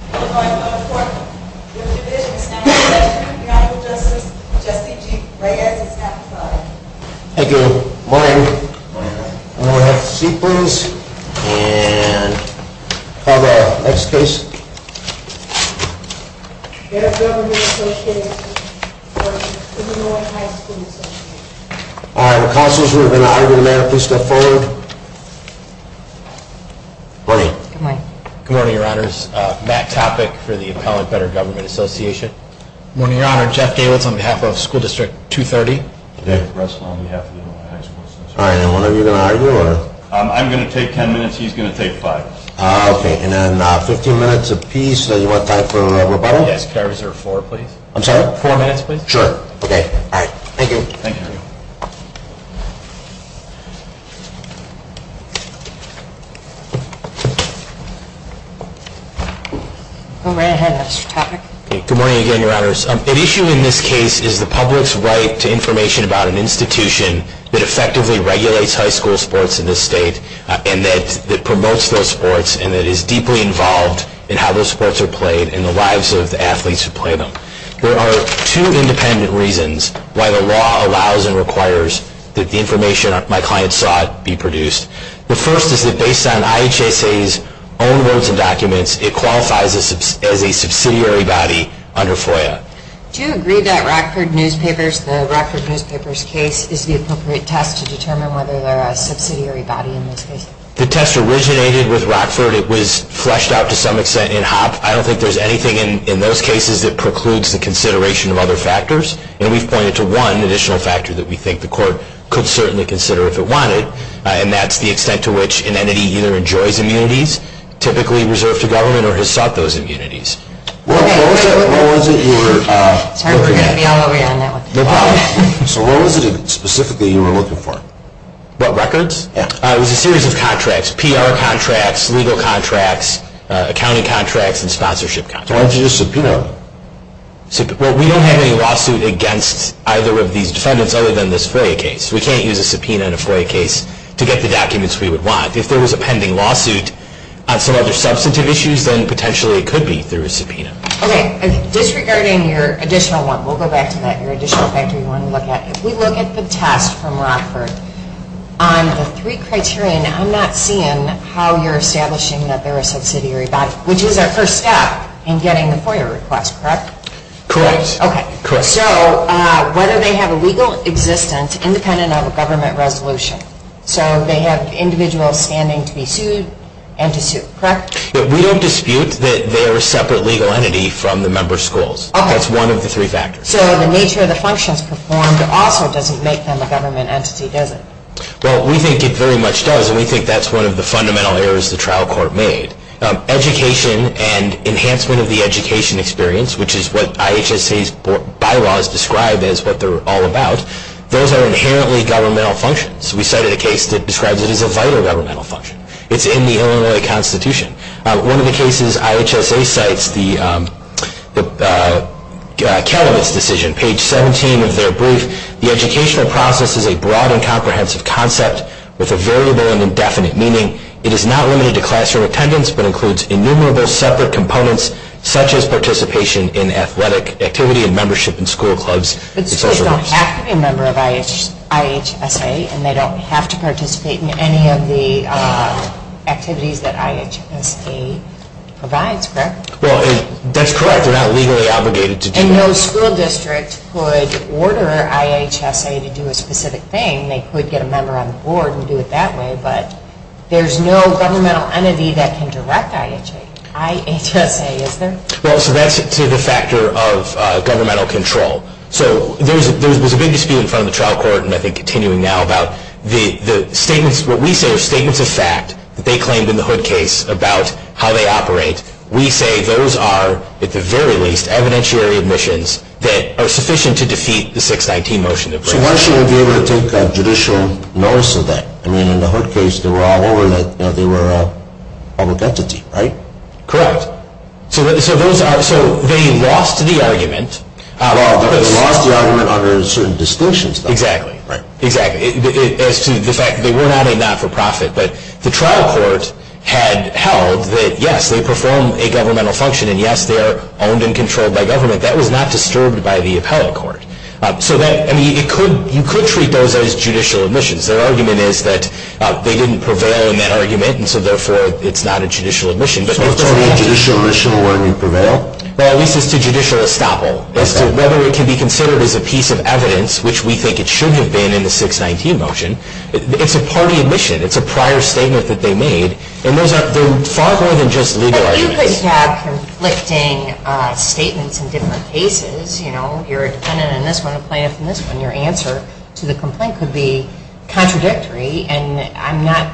Good morning. I'm going to go to the floor. Your division is now in session. Your Honorable Justice, Justice G. Reyes, is now qualified. Thank you. Good morning. Good morning. I'm going to go ahead and have a seat, please. And I'll call the next case. Mayor's Government Associates v. Illinois High School Associates. All right. The counsels have been honored. Mayor, please step forward. Good morning. Good morning. Good morning, Your Honors. Matt Topic for the Appellant Better Government Association. Good morning, Your Honor. Jeff Davids on behalf of School District 230. David Russell on behalf of Illinois High School Associates. All right. And when are you going to argue? I'm going to take ten minutes. He's going to take five. Okay. And then 15 minutes apiece, then you want time for rebuttal? Yes. Could I reserve four, please? I'm sorry? Sure. Okay. All right. Thank you. Thank you. Go right ahead, Mr. Topic. Good morning again, Your Honors. At issue in this case is the public's right to information about an institution that effectively regulates high school sports in this state and that promotes those sports and that is deeply involved in how those sports are played and the lives of the athletes who play them. There are two independent reasons why the law allows and requires that the information my client sought be produced. The first is that based on IHSA's own words and documents, it qualifies as a subsidiary body under FOIA. Do you agree that Rockford Newspapers, the Rockford Newspapers case, is the appropriate test to determine whether they're a subsidiary body in this case? The test originated with Rockford. It was fleshed out to some extent in Hoppe. I don't think there's anything in those cases that precludes the consideration of other factors, and we've pointed to one additional factor that we think the court could certainly consider if it wanted, and that's the extent to which an entity either enjoys immunities, typically reserved to government, or has sought those immunities. What was it you were looking at? Sorry, we're going to be all over you on that one. No problem. So what was it specifically you were looking for? What, records? Yeah. It was a series of contracts, PR contracts, legal contracts, accounting contracts, and sponsorship contracts. So why didn't you just subpoena them? Well, we don't have any lawsuit against either of these defendants other than this FOIA case. We can't use a subpoena in a FOIA case to get the documents we would want. If there was a pending lawsuit on some other substantive issues, then potentially it could be through a subpoena. Okay. Disregarding your additional one, we'll go back to that, your additional factor you want to look at, if we look at the test from Rockford on the three criteria, and I'm not seeing how you're establishing that they're a subsidiary body, which is our first step in getting the FOIA request, correct? Correct. Okay. Correct. So whether they have a legal existence independent of a government resolution. So they have individual standing to be sued and to sue, correct? We don't dispute that they are a separate legal entity from the member schools. That's one of the three factors. So the nature of the functions performed also doesn't make them a government entity, does it? Well, we think it very much does, and we think that's one of the fundamental errors the trial court made. Education and enhancement of the education experience, which is what IHSA's bylaws describe as what they're all about, those are inherently governmental functions. We cited a case that describes it as a vital governmental function. It's in the Illinois Constitution. One of the cases IHSA cites, the Calumet's decision, page 17 of their brief, the educational process is a broad and comprehensive concept with a variable and indefinite, meaning it is not limited to classroom attendance but includes innumerable separate components such as participation in athletic activity and membership in school clubs. But schools don't have to be a member of IHSA, and they don't have to participate in any of the activities that IHSA provides, correct? Well, that's correct. They're not legally obligated to do that. And no school district could order IHSA to do a specific thing. They could get a member on the board and do it that way, but there's no governmental entity that can direct IHSA, is there? Well, so that's to the factor of governmental control. So there was a big dispute in front of the trial court, and I think continuing now, about the statements, what we say are statements of fact that they claimed in the Hood case about how they operate. We say those are, at the very least, evidentiary admissions that are sufficient to defeat the 619 motion. So why shouldn't they be able to take judicial notice of that? I mean, in the Hood case, they were all over that they were a public entity, right? Correct. So they lost the argument. Well, they lost the argument under certain distinctions, though. Exactly. Right. Exactly, as to the fact that they were not a not-for-profit. But the trial court had held that, yes, they perform a governmental function, and, yes, they are owned and controlled by government. That was not disturbed by the appellate court. So, I mean, you could treat those as judicial admissions. Their argument is that they didn't prevail in that argument, and so, therefore, it's not a judicial admission. So it's only a judicial admission of whether you prevail? Well, at least it's a judicial estoppel as to whether it can be considered as a piece of evidence, which we think it should have been in the 619 motion. It's a party admission. It's a prior statement that they made, and those are far more than just legal arguments. But you could have conflicting statements in different cases. You know, you're a defendant in this one, a plaintiff in this one. Your answer to the complaint could be contradictory, and I'm not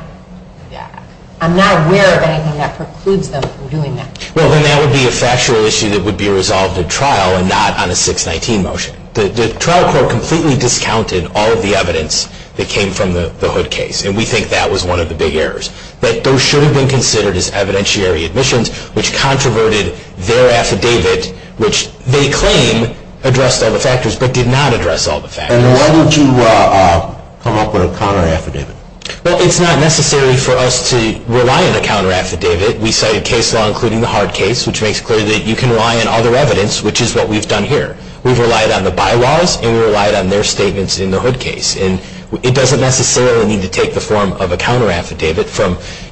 aware of anything that precludes them from doing that. Well, then that would be a factual issue that would be resolved at trial and not on a 619 motion. The trial court completely discounted all of the evidence that came from the Hood case, and we think that was one of the big errors, that those should have been considered as evidentiary admissions, which controverted their affidavit, which they claim addressed all the factors, but did not address all the factors. And why don't you come up with a counter-affidavit? Well, it's not necessary for us to rely on a counter-affidavit. We cited case law, including the hard case, which makes clear that you can rely on other evidence, which is what we've done here. We've relied on the bylaws, and we relied on their statements in the Hood case. And it doesn't necessarily need to take the form of a counter-affidavit.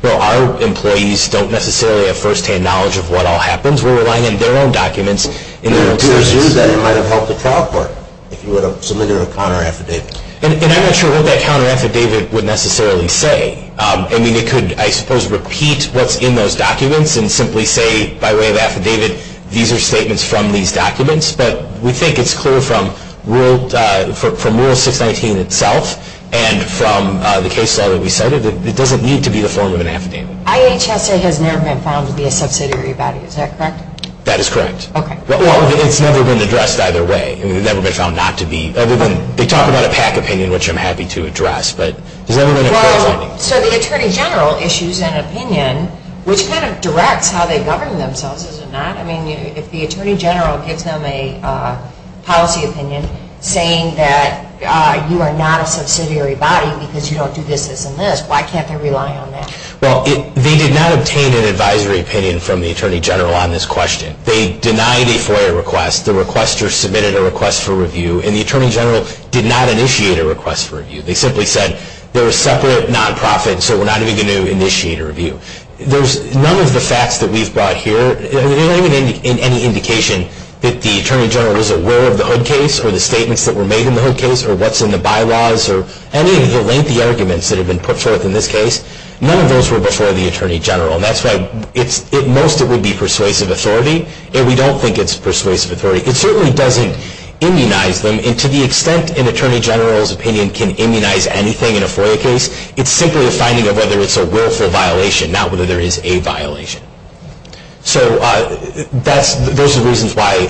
Our employees don't necessarily have first-hand knowledge of what all happens. We're relying on their own documents. Do you assume that it might have helped the trial court if you submitted a counter-affidavit? And I'm not sure what that counter-affidavit would necessarily say. I mean, it could, I suppose, repeat what's in those documents and simply say by way of affidavit, these are statements from these documents. But we think it's clear from Rule 619 itself and from the case law that we cited that it doesn't need to be the form of an affidavit. IHSA has never been found to be a subsidiary body. Is that correct? That is correct. Okay. Well, it's never been addressed either way. It's never been found not to be. They talk about a PAC opinion, which I'm happy to address. So the Attorney General issues an opinion, which kind of directs how they govern themselves, is it not? I mean, if the Attorney General gives them a policy opinion saying that you are not a subsidiary body because you don't do this, this, and this, why can't they rely on that? Well, they did not obtain an advisory opinion from the Attorney General on this question. They denied a FOIA request. The requester submitted a request for review. And the Attorney General did not initiate a request for review. They simply said they're a separate nonprofit, so we're not even going to initiate a review. None of the facts that we've brought here, there's not even any indication that the Attorney General was aware of the Hood case or the statements that were made in the Hood case or what's in the bylaws or any of the lengthy arguments that have been put forth in this case. None of those were before the Attorney General, and that's why most of it would be persuasive authority, and we don't think it's persuasive authority. It certainly doesn't immunize them, and to the extent an Attorney General's opinion can immunize anything in a FOIA case, it's simply a finding of whether it's a willful violation, not whether there is a violation. So those are the reasons why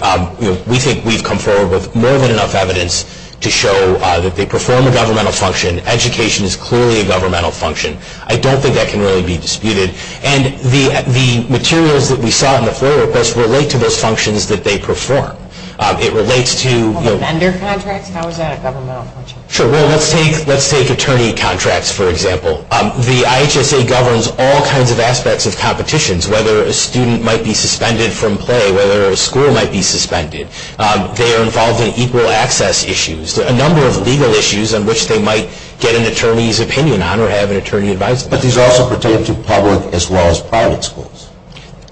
we think we've come forward with more than enough evidence to show that they perform a governmental function. Education is clearly a governmental function. I don't think that can really be disputed. And the materials that we saw in the FOIA request relate to those functions that they perform. It relates to- The vendor contracts? How is that a governmental function? Sure. Well, let's take attorney contracts, for example. The IHSA governs all kinds of aspects of competitions, whether a student might be suspended from play, whether a school might be suspended. They are involved in equal access issues, a number of legal issues on which they might get an attorney's opinion on or have an attorney advise them. But these also pertain to public as well as private schools.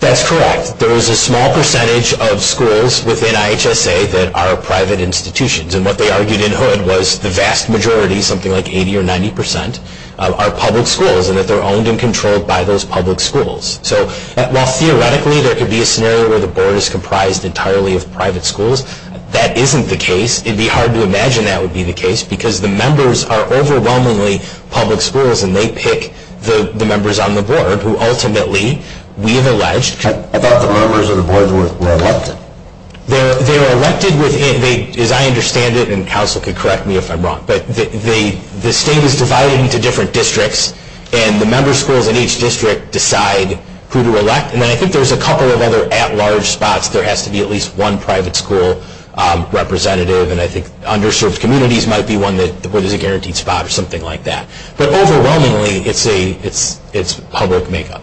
That's correct. There is a small percentage of schools within IHSA that are private institutions, and what they argued in Hood was the vast majority, something like 80 or 90 percent, are public schools and that they're owned and controlled by those public schools. So while theoretically there could be a scenario where the board is comprised entirely of private schools, that isn't the case. It would be hard to imagine that would be the case because the members are overwhelmingly public schools and they pick the members on the board who ultimately, we have alleged- I thought the members of the board were elected. They were elected within-as I understand it, and counsel can correct me if I'm wrong, but the state is divided into different districts and the member schools in each district decide who to elect. And then I think there's a couple of other at-large spots. There has to be at least one private school representative, and I think underserved communities might be one that is a guaranteed spot or something like that. But overwhelmingly it's public makeup.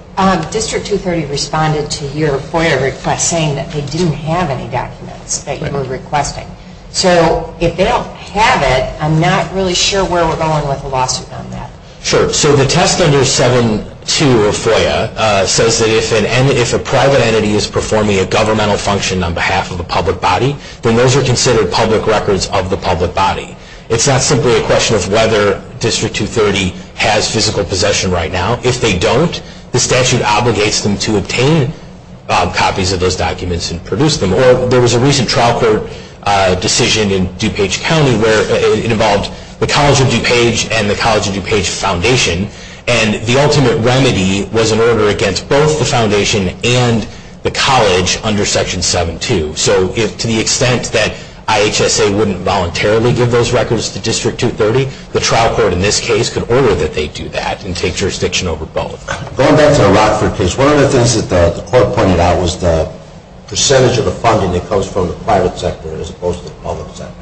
District 230 responded to your FOIA request saying that they didn't have any documents that you were requesting. So if they don't have it, I'm not really sure where we're going with the lawsuit on that. Sure. So the test under 7.2 of FOIA says that if a private entity is performing a governmental function on behalf of a public body, then those are considered public records of the public body. It's not simply a question of whether District 230 has physical possession right now. If they don't, the statute obligates them to obtain copies of those documents and produce them. Or there was a recent trial court decision in DuPage County where it involved the College of DuPage and the College of DuPage Foundation, and the ultimate remedy was an order against both the foundation and the college under Section 7.2. So to the extent that IHSA wouldn't voluntarily give those records to District 230, the trial court in this case could order that they do that and take jurisdiction over both. Going back to the Rockford case, one of the things that the court pointed out was the percentage of the funding that comes from the private sector as opposed to the public sector.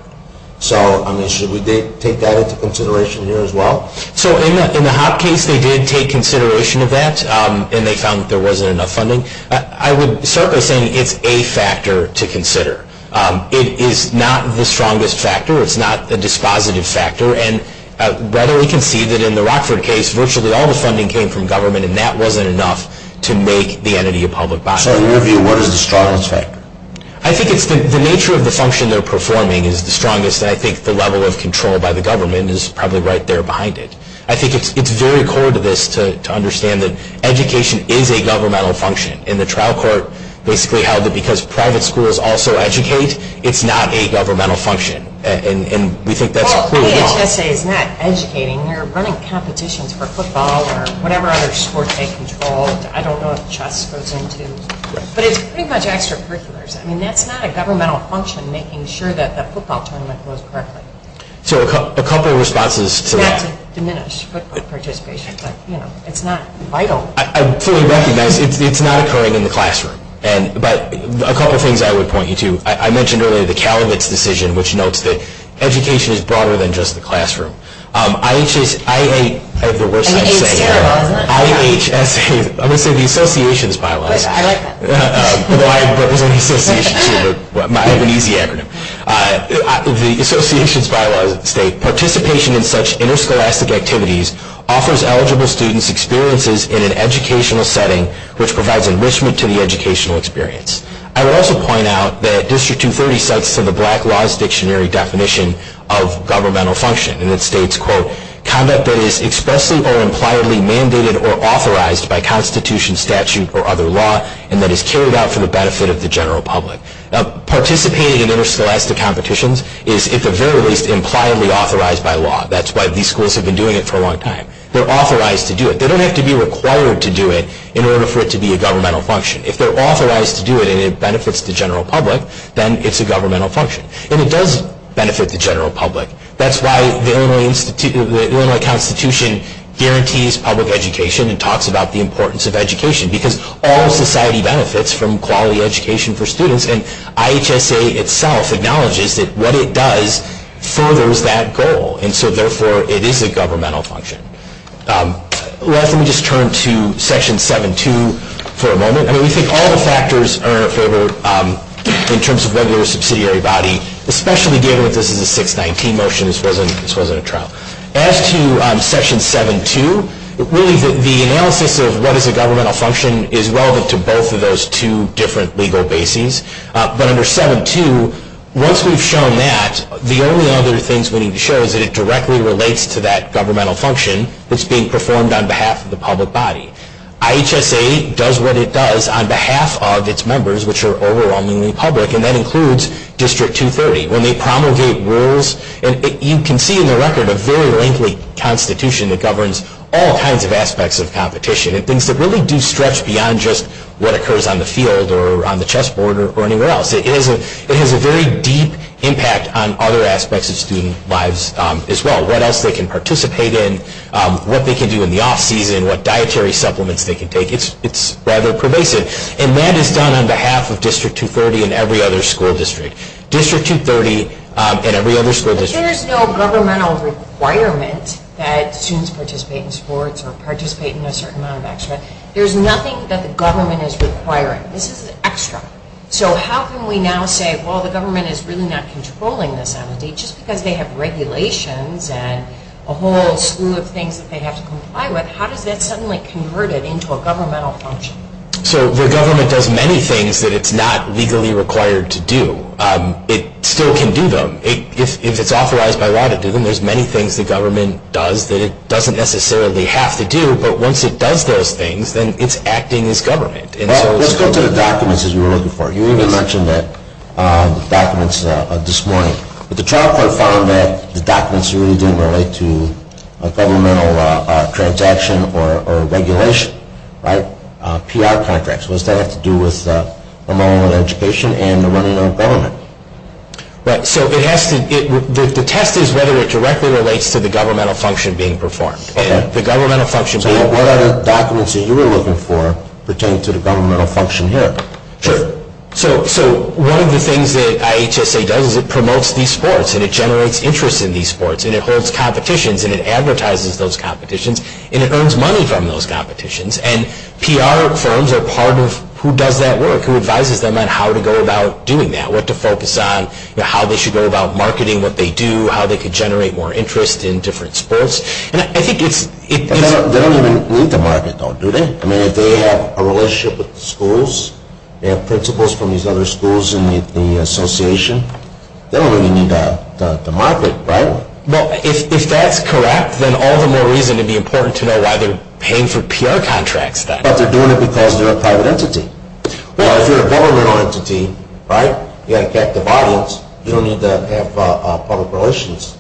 So, I mean, should we take that into consideration here as well? So in the Hopp case, they did take consideration of that, and they found that there wasn't enough funding. I would start by saying it's a factor to consider. It is not the strongest factor. It's not a dispositive factor. And rather, we can see that in the Rockford case, virtually all the funding came from government, and that wasn't enough to make the entity a public body. So in your view, what is the strongest factor? I think it's the nature of the function they're performing is the strongest. And I think the level of control by the government is probably right there behind it. I think it's very core to this to understand that education is a governmental function. And the trial court basically held that because private schools also educate, it's not a governmental function. And we think that's proved wrong. Well, IHSA is not educating. They're running competitions for football or whatever other sport they control. I don't know if chess goes into it. But it's pretty much extracurriculars. I mean, that's not a governmental function, making sure that the football tournament goes correctly. So a couple of responses to that. Not to diminish football participation, but, you know, it's not vital. I fully recognize it's not occurring in the classroom. But a couple of things I would point you to. I mentioned earlier the Calumet's decision, which notes that education is broader than just the classroom. IHSA, I'm going to say the association's bylaws. I like that. I represent the association, too, but I have an easy acronym. The association's bylaws state, participation in such interscholastic activities offers eligible students experiences in an educational setting, which provides enrichment to the educational experience. I would also point out that District 230 cites the Black Laws Dictionary definition of governmental function. And it states, quote, conduct that is expressly or impliedly mandated or authorized by constitution, statute, or other law, and that is carried out for the benefit of the general public. Participating in interscholastic competitions is, at the very least, impliedly authorized by law. That's why these schools have been doing it for a long time. They're authorized to do it. They don't have to be required to do it in order for it to be a governmental function. If they're authorized to do it and it benefits the general public, then it's a governmental function. And it does benefit the general public. That's why the Illinois Constitution guarantees public education and talks about the importance of education, because all society benefits from quality education for students. And IHSA itself acknowledges that what it does furthers that goal. And so, therefore, it is a governmental function. Let me just turn to Section 7.2 for a moment. I mean, we think all the factors are in favor in terms of regular subsidiary body, especially given that this is a 619 motion. This wasn't a trial. As to Section 7.2, really the analysis of what is a governmental function is relevant to both of those two different legal bases. But under 7.2, once we've shown that, the only other things we need to show is that it directly relates to that governmental function that's being performed on behalf of the public body. IHSA does what it does on behalf of its members, which are overwhelmingly public. And that includes District 230. When they promulgate rules, you can see in the record a very lengthy constitution that governs all kinds of aspects of competition and things that really do stretch beyond just what occurs on the field or on the chessboard or anywhere else. It has a very deep impact on other aspects of student lives as well. What else they can participate in, what they can do in the off-season, what dietary supplements they can take. It's rather pervasive. And that is done on behalf of District 230 and every other school district. District 230 and every other school district. But there's no governmental requirement that students participate in sports or participate in a certain amount of extra. There's nothing that the government is requiring. This is extra. So how can we now say, well, the government is really not controlling this entity just because they have regulations and a whole slew of things that they have to comply with. How does that suddenly convert it into a governmental function? So the government does many things that it's not legally required to do. It still can do them. If it's authorized by law to do them, there's many things the government does that it doesn't necessarily have to do. But once it does those things, then it's acting as government. Let's go to the documents, as we were looking for. You even mentioned the documents this morning. But the trial court found that the documents really didn't relate to a governmental transaction or regulation. PR contracts. What does that have to do with the model of education and the running of government? Right. So the test is whether it directly relates to the governmental function being performed. Okay. So what other documents that you were looking for pertain to the governmental function here? Sure. So one of the things that IHSA does is it promotes these sports, and it generates interest in these sports, and it holds competitions, and it advertises those competitions, and it earns money from those competitions. And PR firms are part of who does that work, who advises them on how to go about doing that, what to focus on, how they should go about marketing what they do, how they could generate more interest in different sports. They don't even lead the market, though, do they? I mean, if they have a relationship with the schools, they have principals from these other schools in the association, they don't really need to market, right? Well, if that's correct, then all the more reason it would be important to know why they're paying for PR contracts, then. But they're doing it because they're a private entity. Well, if you're a governmental entity, right, you've got a captive audience, you don't need to have public relations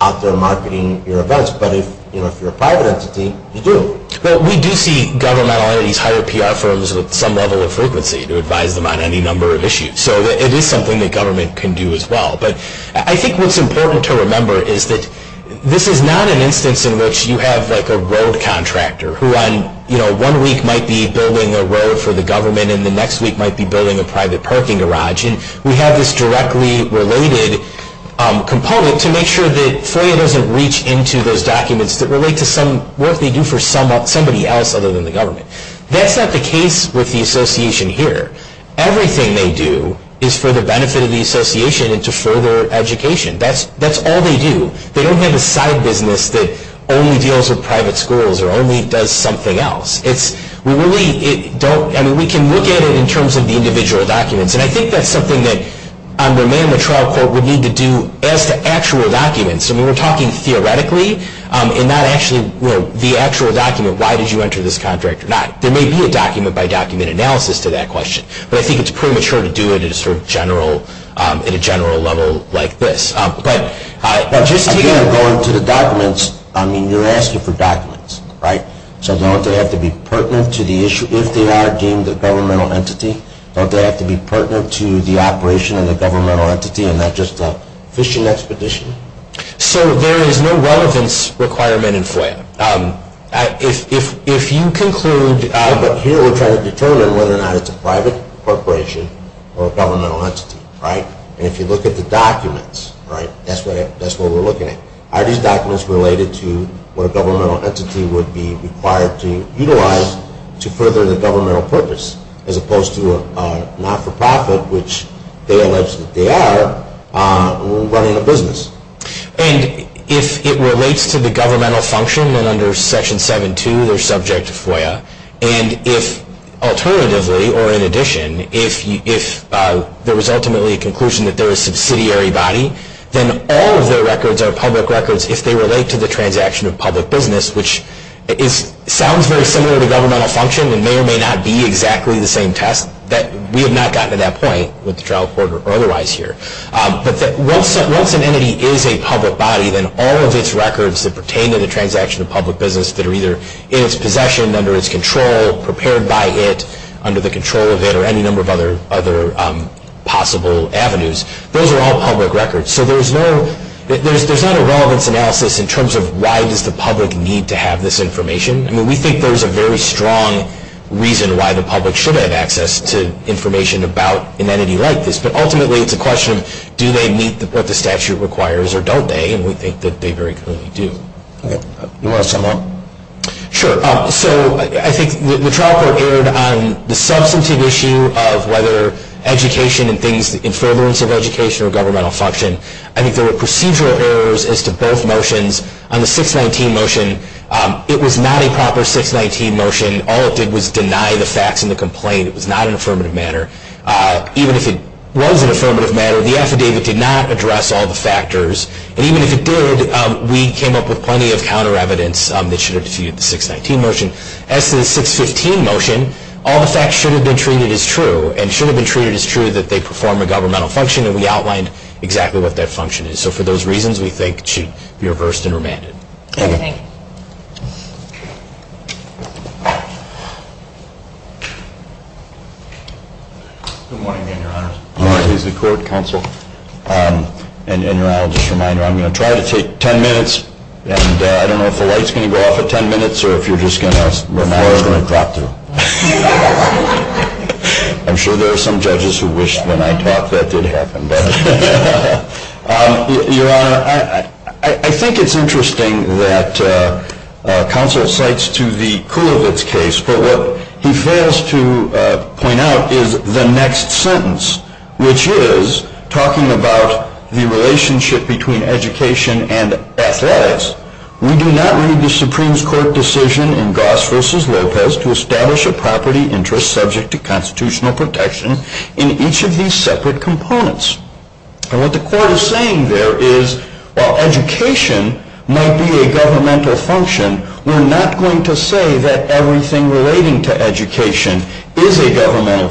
out there marketing your events. But if you're a private entity, you do. Well, we do see governmental entities hire PR firms with some level of frequency to advise them on any number of issues. So it is something that government can do as well. But I think what's important to remember is that this is not an instance in which you have like a road contractor who one week might be building a road for the government, and the next week might be building a private parking garage. And we have this directly related component to make sure that FOIA doesn't reach into those documents that relate to some work they do for somebody else other than the government. That's not the case with the association here. Everything they do is for the benefit of the association and to further education. That's all they do. They don't have a side business that only deals with private schools or only does something else. We can look at it in terms of the individual documents, and I think that's something that Romain and the trial court would need to do as to actual documents. I mean, we're talking theoretically and not actually, you know, the actual document. Why did you enter this contract or not? There may be a document-by-document analysis to that question, but I think it's premature to do it at a sort of general level like this. But just to go into the documents, I mean, you're asking for documents, right? So don't they have to be pertinent to the issue if they are deemed a governmental entity? Don't they have to be pertinent to the operation of the governmental entity and not just a fishing expedition? So there is no relevance requirement in FOIA. If you conclude— But here we're trying to determine whether or not it's a private corporation or a governmental entity, right? And if you look at the documents, right, that's what we're looking at. Are these documents related to what a governmental entity would be required to utilize to further the governmental purpose as opposed to a not-for-profit, which they allege that they are, running a business? And if it relates to the governmental function, then under Section 7.2, they're subject to FOIA. And if—alternatively or in addition— if there was ultimately a conclusion that they're a subsidiary body, then all of their records are public records if they relate to the transaction of public business, which sounds very similar to governmental function and may or may not be exactly the same test. We have not gotten to that point with the trial court or otherwise here. But once an entity is a public body, then all of its records that pertain to the transaction of public business that are either in its possession, under its control, prepared by it, under the control of it, or any number of other possible avenues, those are all public records. So there's no—there's not a relevance analysis in terms of why does the public need to have this information. I mean, we think there's a very strong reason why the public should have access to information about an entity like this. But ultimately, it's a question of do they meet what the statute requires or don't they? And we think that they very clearly do. You want to sum up? Sure. So I think the trial court erred on the substantive issue of whether education and things— I think there were procedural errors as to both motions. On the 619 motion, it was not a proper 619 motion. All it did was deny the facts in the complaint. It was not an affirmative matter. Even if it was an affirmative matter, the affidavit did not address all the factors. And even if it did, we came up with plenty of counter evidence that should have defeated the 619 motion. As to the 615 motion, all the facts should have been treated as true and should have been treated as true that they perform a governmental function, and we outlined exactly what that function is. So for those reasons, we think it should be reversed and remanded. Thank you. Thank you. Good morning, Your Honor. Good morning. Please record, counsel. And Your Honor, just a reminder, I'm going to try to take 10 minutes, and I don't know if the light's going to go off at 10 minutes or if you're just going to— The floor is going to drop through. I'm sure there are some judges who wish when I talk that did happen. Your Honor, I think it's interesting that counsel cites to the Kulovitz case, but what he fails to point out is the next sentence, which is talking about the relationship between education and athletics. We do not read the Supreme Court decision in Goss v. Lopez to establish a property interest subject to constitutional protection in each of these separate components. And what the Court is saying there is, while education might be a governmental function, we're not going to say that everything relating to education is a governmental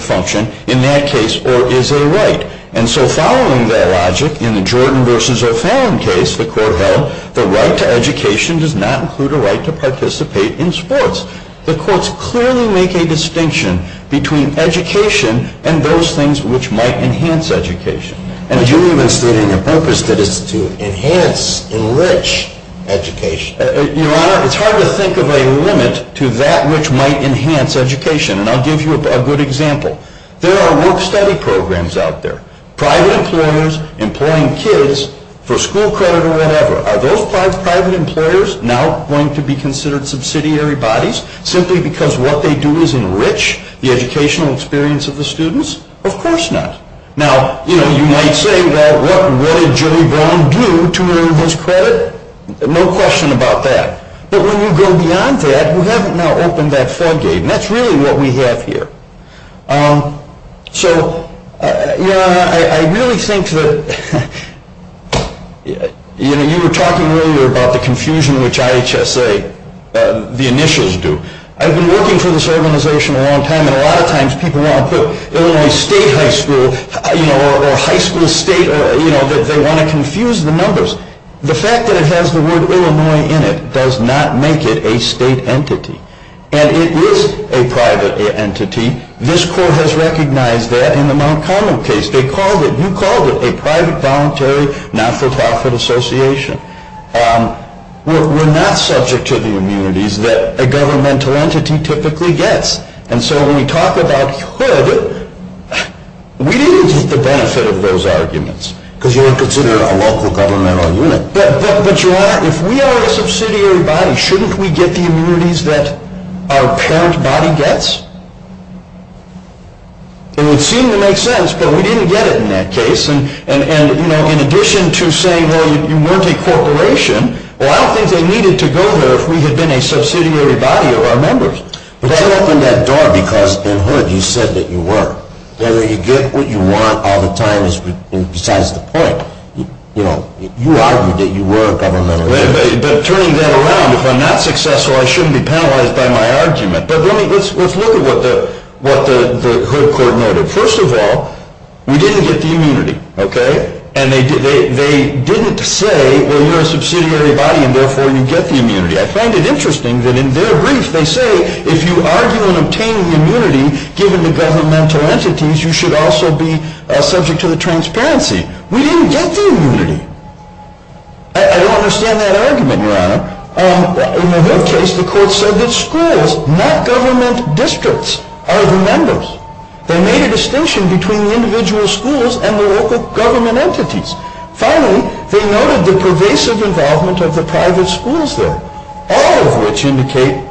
function in that case or is a right. And so following that logic in the Jordan v. O'Fallon case, the Court held the right to education does not include a right to participate in sports. The Courts clearly make a distinction between education and those things which might enhance education. And you even state in your purpose that it's to enhance, enrich education. Your Honor, it's hard to think of a limit to that which might enhance education, and I'll give you a good example. There are work-study programs out there, private employers employing kids for school credit or whatever. Are those private employers now going to be considered subsidiary bodies simply because what they do is enrich the educational experience of the students? Of course not. Now, you know, you might say, well, what did Joey Brown do to earn his credit? No question about that. But when you go beyond that, we haven't now opened that floodgate, and that's really what we have here. So, Your Honor, I really think that, you know, you were talking earlier about the confusion which IHSA, the initials do. I've been working for this organization a long time, and a lot of times people want to put Illinois State High School, you know, or High School State, you know, that they want to confuse the numbers. The fact that it has the word Illinois in it does not make it a state entity. And it is a private entity. This court has recognized that in the Mount Common case. They called it, you called it, a private, voluntary, not-for-profit association. We're not subject to the immunities that a governmental entity typically gets. And so when we talk about could, we didn't get the benefit of those arguments. Because you were considering a local governmental unit. But, Your Honor, if we are a subsidiary body, shouldn't we get the immunities that our parent body gets? It would seem to make sense, but we didn't get it in that case. And, you know, in addition to saying, well, you weren't a corporation, well, I don't think they needed to go there if we had been a subsidiary body of our members. But you opened that door because, in hood, you said that you were. Whether you get what you want all the time is besides the point. You know, you argued that you were a governmental entity. But turning that around, if I'm not successful, I shouldn't be penalized by my argument. But let's look at what the hood court noted. First of all, we didn't get the immunity, okay? And they didn't say, well, you're a subsidiary body and therefore you get the immunity. I find it interesting that in their brief they say, if you argue and obtain the immunity given to governmental entities, you should also be subject to the transparency. We didn't get the immunity. I don't understand that argument, Your Honor. In the hood case, the court said that schools, not government districts, are the members. They made a distinction between the individual schools and the local government entities. Finally, they noted the pervasive involvement of the private schools there, all of which indicate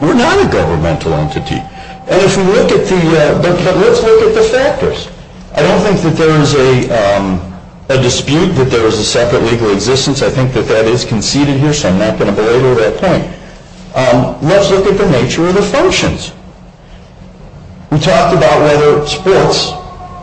we're not a governmental entity. And if we look at the, but let's look at the factors. I don't think that there is a dispute that there is a separate legal existence. I think that that is conceded here, so I'm not going to belabor that point. Let's look at the nature of the functions. We talked about whether sports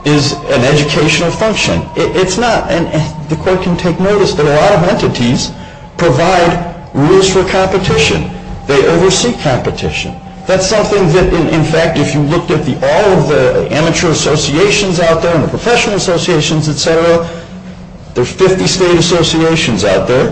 is an educational function. It's not. And the court can take notice that a lot of entities provide rules for competition. They oversee competition. That's something that, in fact, if you looked at all of the amateur associations out there and the professional associations, et cetera, there are 50 state associations out there.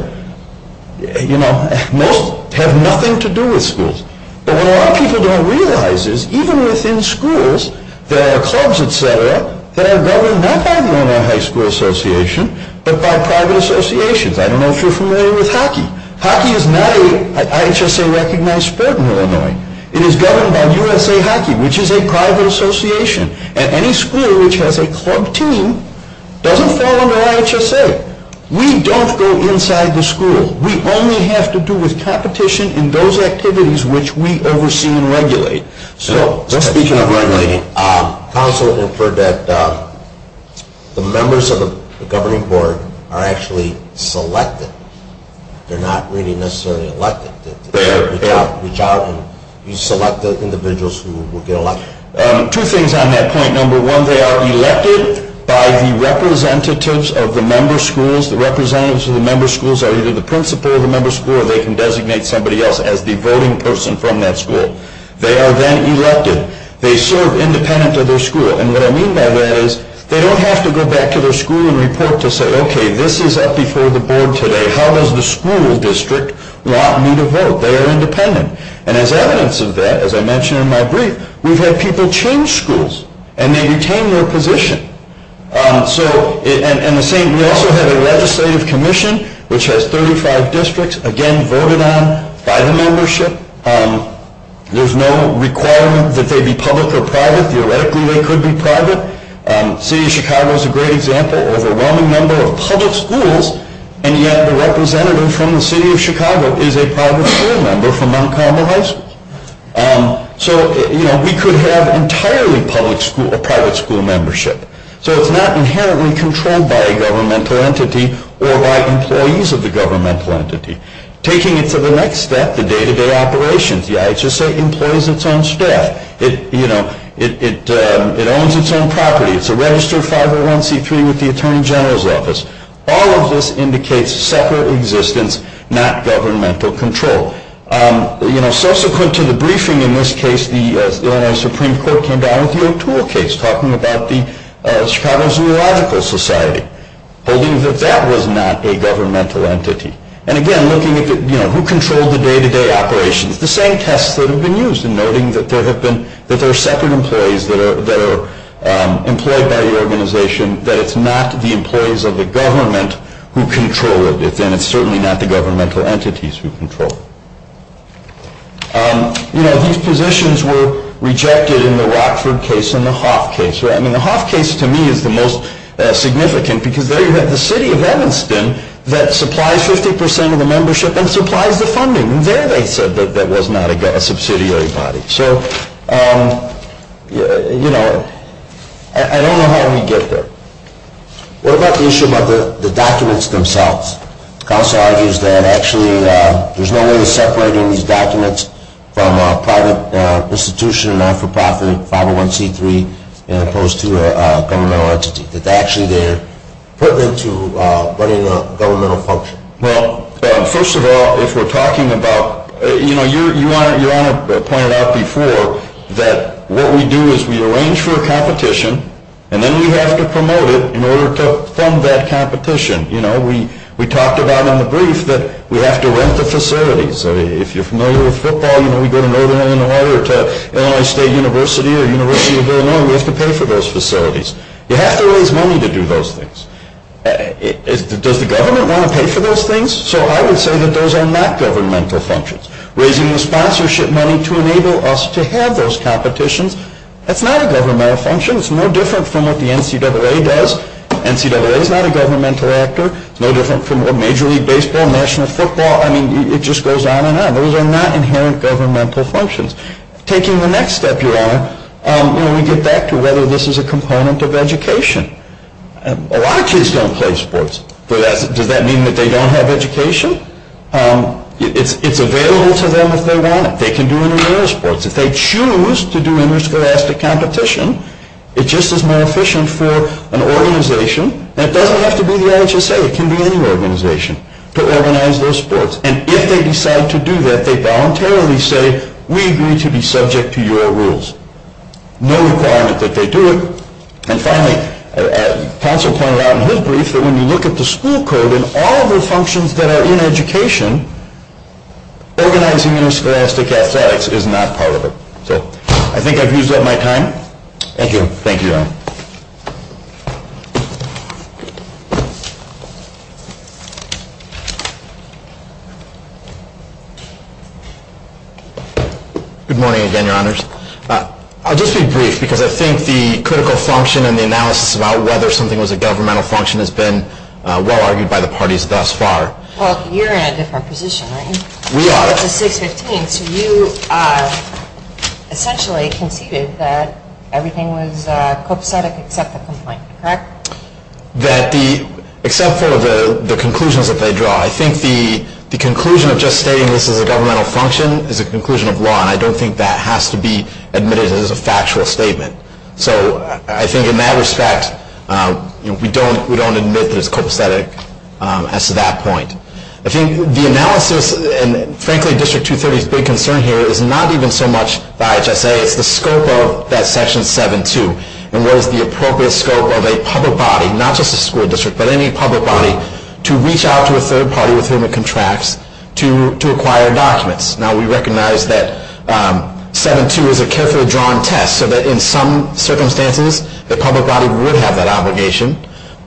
You know, most have nothing to do with schools. But what a lot of people don't realize is even within schools, there are clubs, et cetera, that are governed not by the Illinois High School Association but by private associations. I don't know if you're familiar with hockey. Hockey is not an IHSA-recognized sport in Illinois. It is governed by USA Hockey, which is a private association. And any school which has a club team doesn't fall under IHSA. We don't go inside the school. We only have to do with competition in those activities which we oversee and regulate. Speaking of regulating, counsel inferred that the members of the governing board are actually selected. They're not really necessarily elected. They are. You reach out and you select the individuals who will get elected. Two things on that point. Number one, they are elected by the representatives of the member schools. The representatives of the member schools are either the principal of the member school or they can designate somebody else as the voting person from that school. They are then elected. They serve independent of their school. And what I mean by that is they don't have to go back to their school and report to say, okay, this is up before the board today. How does the school district want me to vote? They are independent. And as evidence of that, as I mentioned in my brief, we've had people change schools and they retain their position. We also have a legislative commission which has 35 districts, again, voted on by the membership. There's no requirement that they be public or private. Theoretically, they could be private. The city of Chicago is a great example. Overwhelming number of public schools, and yet the representative from the city of Chicago is a private school member from Montgomery High School. So, you know, we could have entirely public school or private school membership. So it's not inherently controlled by a governmental entity or by employees of the governmental entity. Taking it to the next step, the day-to-day operations, the IHSA employs its own staff. It, you know, it owns its own property. It's a registered 501C3 with the Attorney General's office. All of this indicates separate existence, not governmental control. You know, subsequent to the briefing in this case, the Illinois Supreme Court came down with the O2L case talking about the Chicago Zoological Society, holding that that was not a governmental entity. And again, looking at, you know, who controlled the day-to-day operations, the same tests that have been used in noting that there have been, that there are separate employees that are employed by the organization, that it's not the employees of the government who control it, and it's certainly not the governmental entities who control it. You know, these positions were rejected in the Rockford case and the Hoff case. I mean, the Hoff case, to me, is the most significant because there you have the city of Evanston that supplies 50 percent of the membership and supplies the funding, and there they said that that was not a subsidiary body. So, you know, I don't know how we get there. What about the issue about the documents themselves? Counsel argues that actually there's no way of separating these documents from a private institution, not-for-profit 501C3, as opposed to a governmental entity, that actually they're pertinent to running a governmental function. Well, first of all, if we're talking about, you know, Your Honor pointed out before that what we do is we arrange for a competition, and then we have to promote it in order to fund that competition. You know, we talked about in the brief that we have to rent the facilities. If you're familiar with football, you know, we go to Northern Illinois or to Illinois State University or University of Illinois, we have to pay for those facilities. You have to raise money to do those things. Does the government want to pay for those things? So I would say that those are not governmental functions. Raising the sponsorship money to enable us to have those competitions, that's not a governmental function. It's no different from what the NCAA does. NCAA is not a governmental actor. It's no different from Major League Baseball, National Football. I mean, it just goes on and on. Those are not inherent governmental functions. Taking the next step, Your Honor, we get back to whether this is a component of education. A lot of kids don't play sports. Does that mean that they don't have education? It's available to them if they want it. They can do intramural sports. If they choose to do interscholastic competition, it just is more efficient for an organization, and it doesn't have to be the LHSA. It can be any organization to organize those sports. And if they decide to do that, they voluntarily say, we agree to be subject to your rules. No requirement that they do it. And finally, counsel pointed out in his brief that when you look at the school code and all of the functions that are in education, organizing interscholastic athletics is not part of it. So I think I've used up my time. Thank you. Thank you, Your Honor. Good morning again, Your Honors. I'll just be brief, because I think the critical function and the analysis about whether something was a governmental function has been well-argued by the parties thus far. Well, you're in a different position, right? We are. It's a 615, so you essentially conceded that everything was copacetic except the complaint, correct? Except for the conclusions that they draw. I think the conclusion of just stating this is a governmental function is a conclusion of law, and I don't think that has to be admitted as a factual statement. So I think in that respect, we don't admit that it's copacetic as to that point. I think the analysis, and frankly, District 230's big concern here is not even so much the IHSA, it's the scope of that Section 7-2, and what is the appropriate scope of a public body, not just a school district, but any public body, to reach out to a third party with whom it contracts to acquire documents. Now, we recognize that 7-2 is a carefully drawn test, so that in some circumstances, the public body would have that obligation.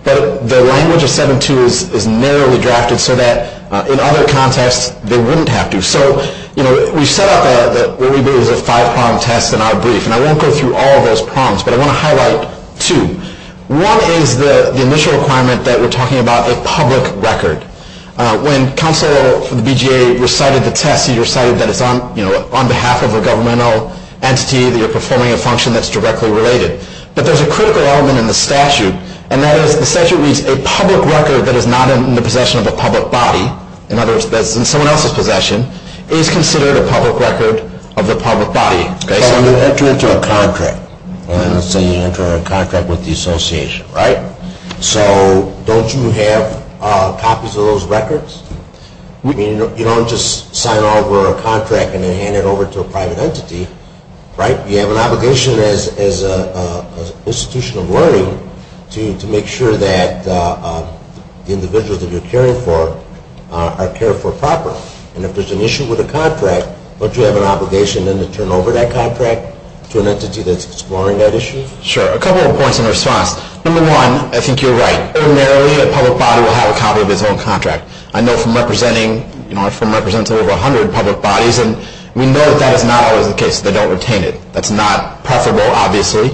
But the language of 7-2 is narrowly drafted so that in other contexts, they wouldn't have to. So, you know, we've set up what we believe is a five-prong test in our brief, and I won't go through all of those prongs, but I want to highlight two. One is the initial requirement that we're talking about, a public record. When counsel for the BJA recited the test, he recited that it's on behalf of a governmental entity that you're performing a function that's directly related. But there's a critical element in the statute, and that is the statute reads, a public record that is not in the possession of a public body, in other words, that's in someone else's possession, is considered a public record of the public body. So you enter into a contract. Let's say you enter into a contract with the association, right? So don't you have copies of those records? You don't just sign over a contract and then hand it over to a private entity, right? You have an obligation as an institution of learning to make sure that the individuals that you're caring for are cared for properly. And if there's an issue with a contract, don't you have an obligation then to turn over that contract to an entity that's exploring that issue? Sure. A couple of points in response. Number one, I think you're right. Ordinarily, a public body will have a copy of its own contract. I know from representing over 100 public bodies, and we know that that is not always the case. They don't retain it. That's not preferable, obviously.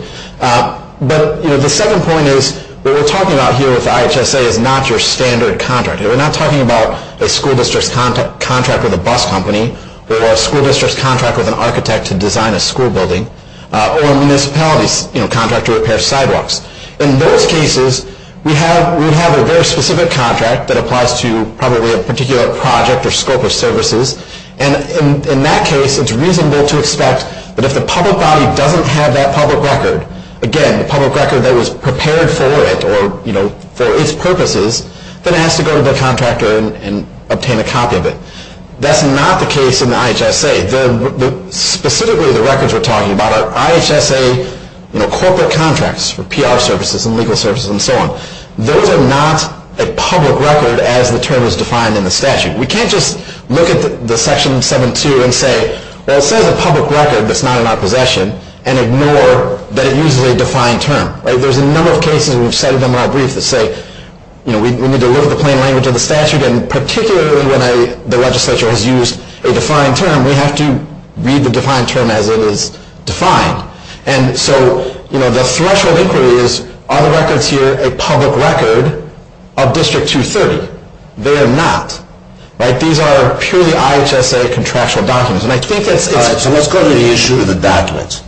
But the second point is what we're talking about here with IHSA is not your standard contract. We're not talking about a school district's contract with a bus company or a school district's contract with an architect to design a school building or a municipality's contract to repair sidewalks. In those cases, we have a very specific contract that applies to probably a particular project or scope of services. And in that case, it's reasonable to expect that if the public body doesn't have that public record, again, the public record that was prepared for it or for its purposes, then it has to go to the contractor and obtain a copy of it. That's not the case in the IHSA. Specifically, the records we're talking about are IHSA corporate contracts for PR services and legal services and so on. Those are not a public record as the term is defined in the statute. We can't just look at Section 7.2 and say, well, it says a public record that's not in our possession and ignore that it uses a defined term. There's a number of cases, and we've cited them in our brief, that say, we need to look at the plain language of the statute, and particularly when the legislature has used a defined term, we have to read the defined term as it is defined. And so the threshold inquiry is, are the records here a public record of District 230? They are not. These are purely IHSA contractual documents. So let's go to the issue of the documents.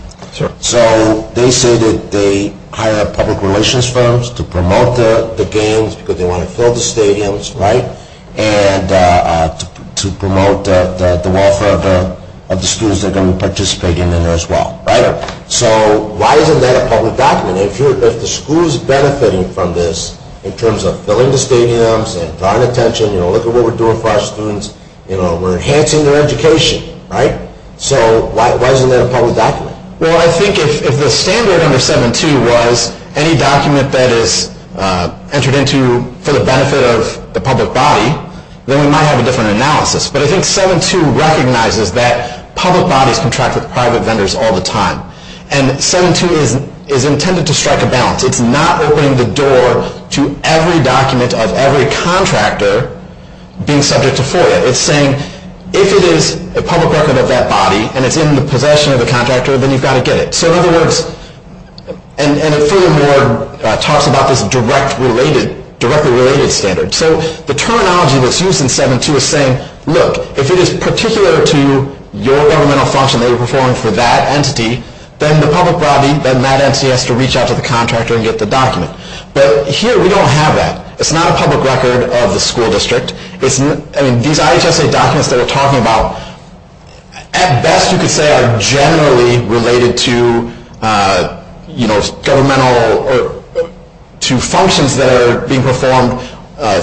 So they say that they hire public relations firms to promote the games because they want to fill the stadiums. And to promote the welfare of the students that are going to participate in them as well. So why isn't that a public document? If the school is benefiting from this in terms of filling the stadiums and drawing attention, look at what we're doing for our students. We're enhancing their education. So why isn't that a public document? Well, I think if the standard under 7.2 was any document that is entered into for the benefit of the public body, then we might have a different analysis. But I think 7.2 recognizes that public bodies contract with private vendors all the time. And 7.2 is intended to strike a balance. It's not opening the door to every document of every contractor being subject to FOIA. It's saying, if it is a public record of that body and it's in the possession of the contractor, then you've got to get it. And it talks about this directly related standard. So the terminology that's used in 7.2 is saying, look, if it is particular to your governmental function that you're performing for that entity, then that entity has to reach out to the contractor and get the document. But here we don't have that. It's not a public record of the school district. These IHSA documents that we're talking about, at best you could say are generally related to functions that are being performed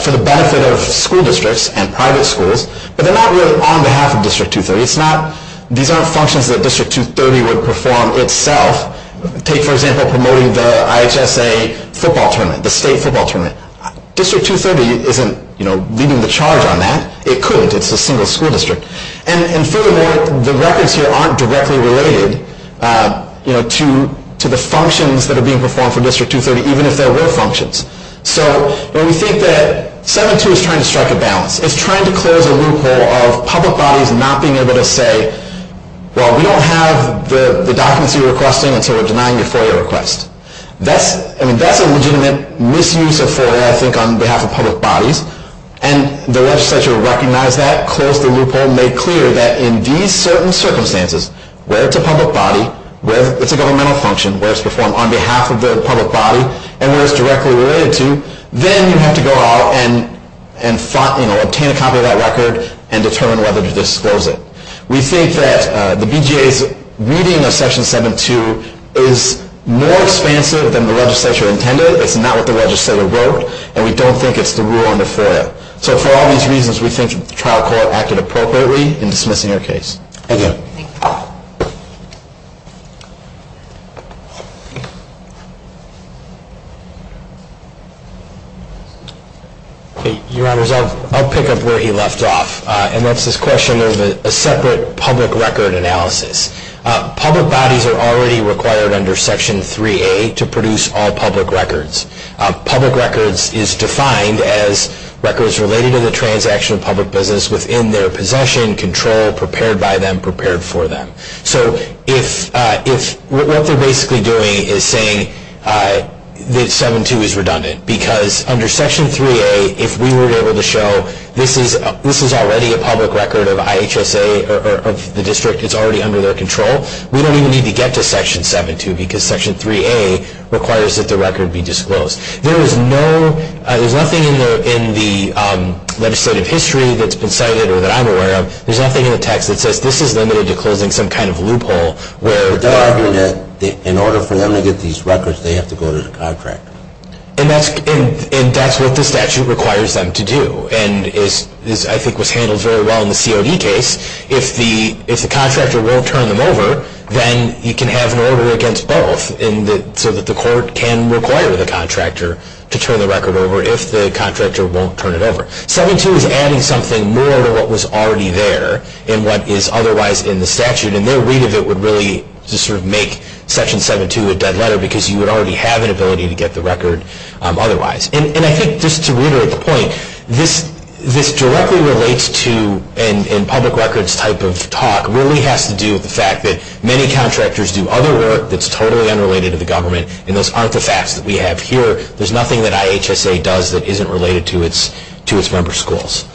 for the benefit of school districts and private schools. But they're not really on behalf of District 230. These aren't functions that District 230 would perform itself. Take, for example, promoting the IHSA football tournament, the state football tournament. District 230 isn't leading the charge on that. It couldn't. It's a single school district. And furthermore, the records here aren't directly related to the functions that are being performed for District 230, even if there were functions. So we think that 7.2 is trying to strike a balance. It's trying to close a loophole of public bodies not being able to say, well, we don't have the documents you're requesting, and so we're denying your FOIA request. That's a legitimate misuse of FOIA, I think, on behalf of public bodies. And the legislature recognized that, closed the loophole, made clear that in these certain circumstances where it's a public body, where it's a governmental function, where it's performed on behalf of the public body, and where it's directly related to, then you have to go out and obtain a copy of that record and determine whether to disclose it. We think that the BJA's reading of Section 7.2 is more expansive than the legislature intended. It's not what the legislature wrote, and we don't think it's the rule on the FOIA. So for all these reasons, we think the trial court acted appropriately in dismissing your case. Thank you. Thank you. Your Honors, I'll pick up where he left off, and that's this question of a separate public record analysis. Public bodies are already required under Section 3A to produce all public records. Public records is defined as records related to the transaction of public business within their possession, control, prepared by them, prepared for them. So what they're basically doing is saying that 7.2 is redundant, because under Section 3A, if we were able to show this is already a public record of IHSA, or of the district, it's already under their control, we don't even need to get to Section 7.2, because Section 3A requires that the record be disclosed. There's nothing in the legislative history that's been cited or that I'm aware of, there's nothing in the text that says this is limited to closing some kind of loophole. They're arguing that in order for them to get these records, they have to go to the contractor. And that's what the statute requires them to do, and I think was handled very well in the COD case. If the contractor won't turn them over, then you can have an order against both, so that the court can require the contractor to turn the record over if the contractor won't turn it over. 7.2 is adding something more to what was already there, and what is otherwise in the statute, and their read of it would really make Section 7.2 a dead letter, because you would already have an ability to get the record otherwise. And I think just to reiterate the point, this directly relates to, and public records type of talk really has to do with the fact that many contractors do other work that's totally unrelated to the government, and those aren't the facts that we have here. There's nothing that IHSA does that isn't related to its member schools.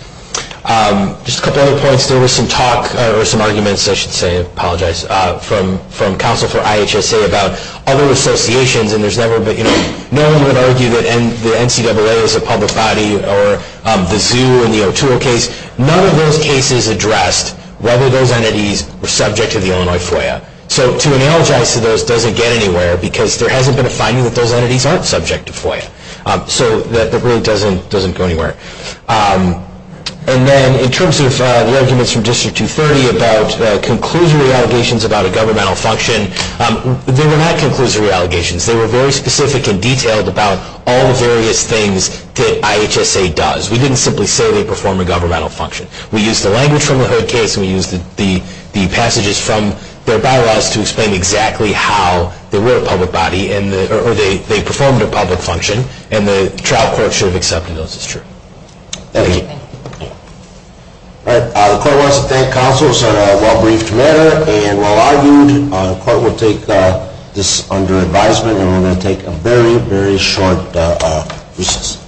Just a couple other points, there was some talk, or some arguments I should say, I apologize, from counsel for IHSA about other associations, and no one would argue that the NCAA is a public body, or the zoo in the O'Toole case. None of those cases addressed whether those entities were subject to the Illinois FOIA. So to analogize to those doesn't get anywhere, because there hasn't been a finding that those entities aren't subject to FOIA. So that really doesn't go anywhere. And then in terms of the arguments from District 230 about conclusory allegations about a governmental function, they were not conclusory allegations. They were very specific and detailed about all the various things that IHSA does. We didn't simply say they perform a governmental function. We used the language from the Heard case, and we used the passages from their bylaws to explain exactly how they were a public body, or they performed a public function, and the trial court should have accepted those as true. Thank you. All right. The court wants to thank counsel. It was a well-briefed matter, and while argued, the court will take this under advisement, and we're going to take a very, very short recess.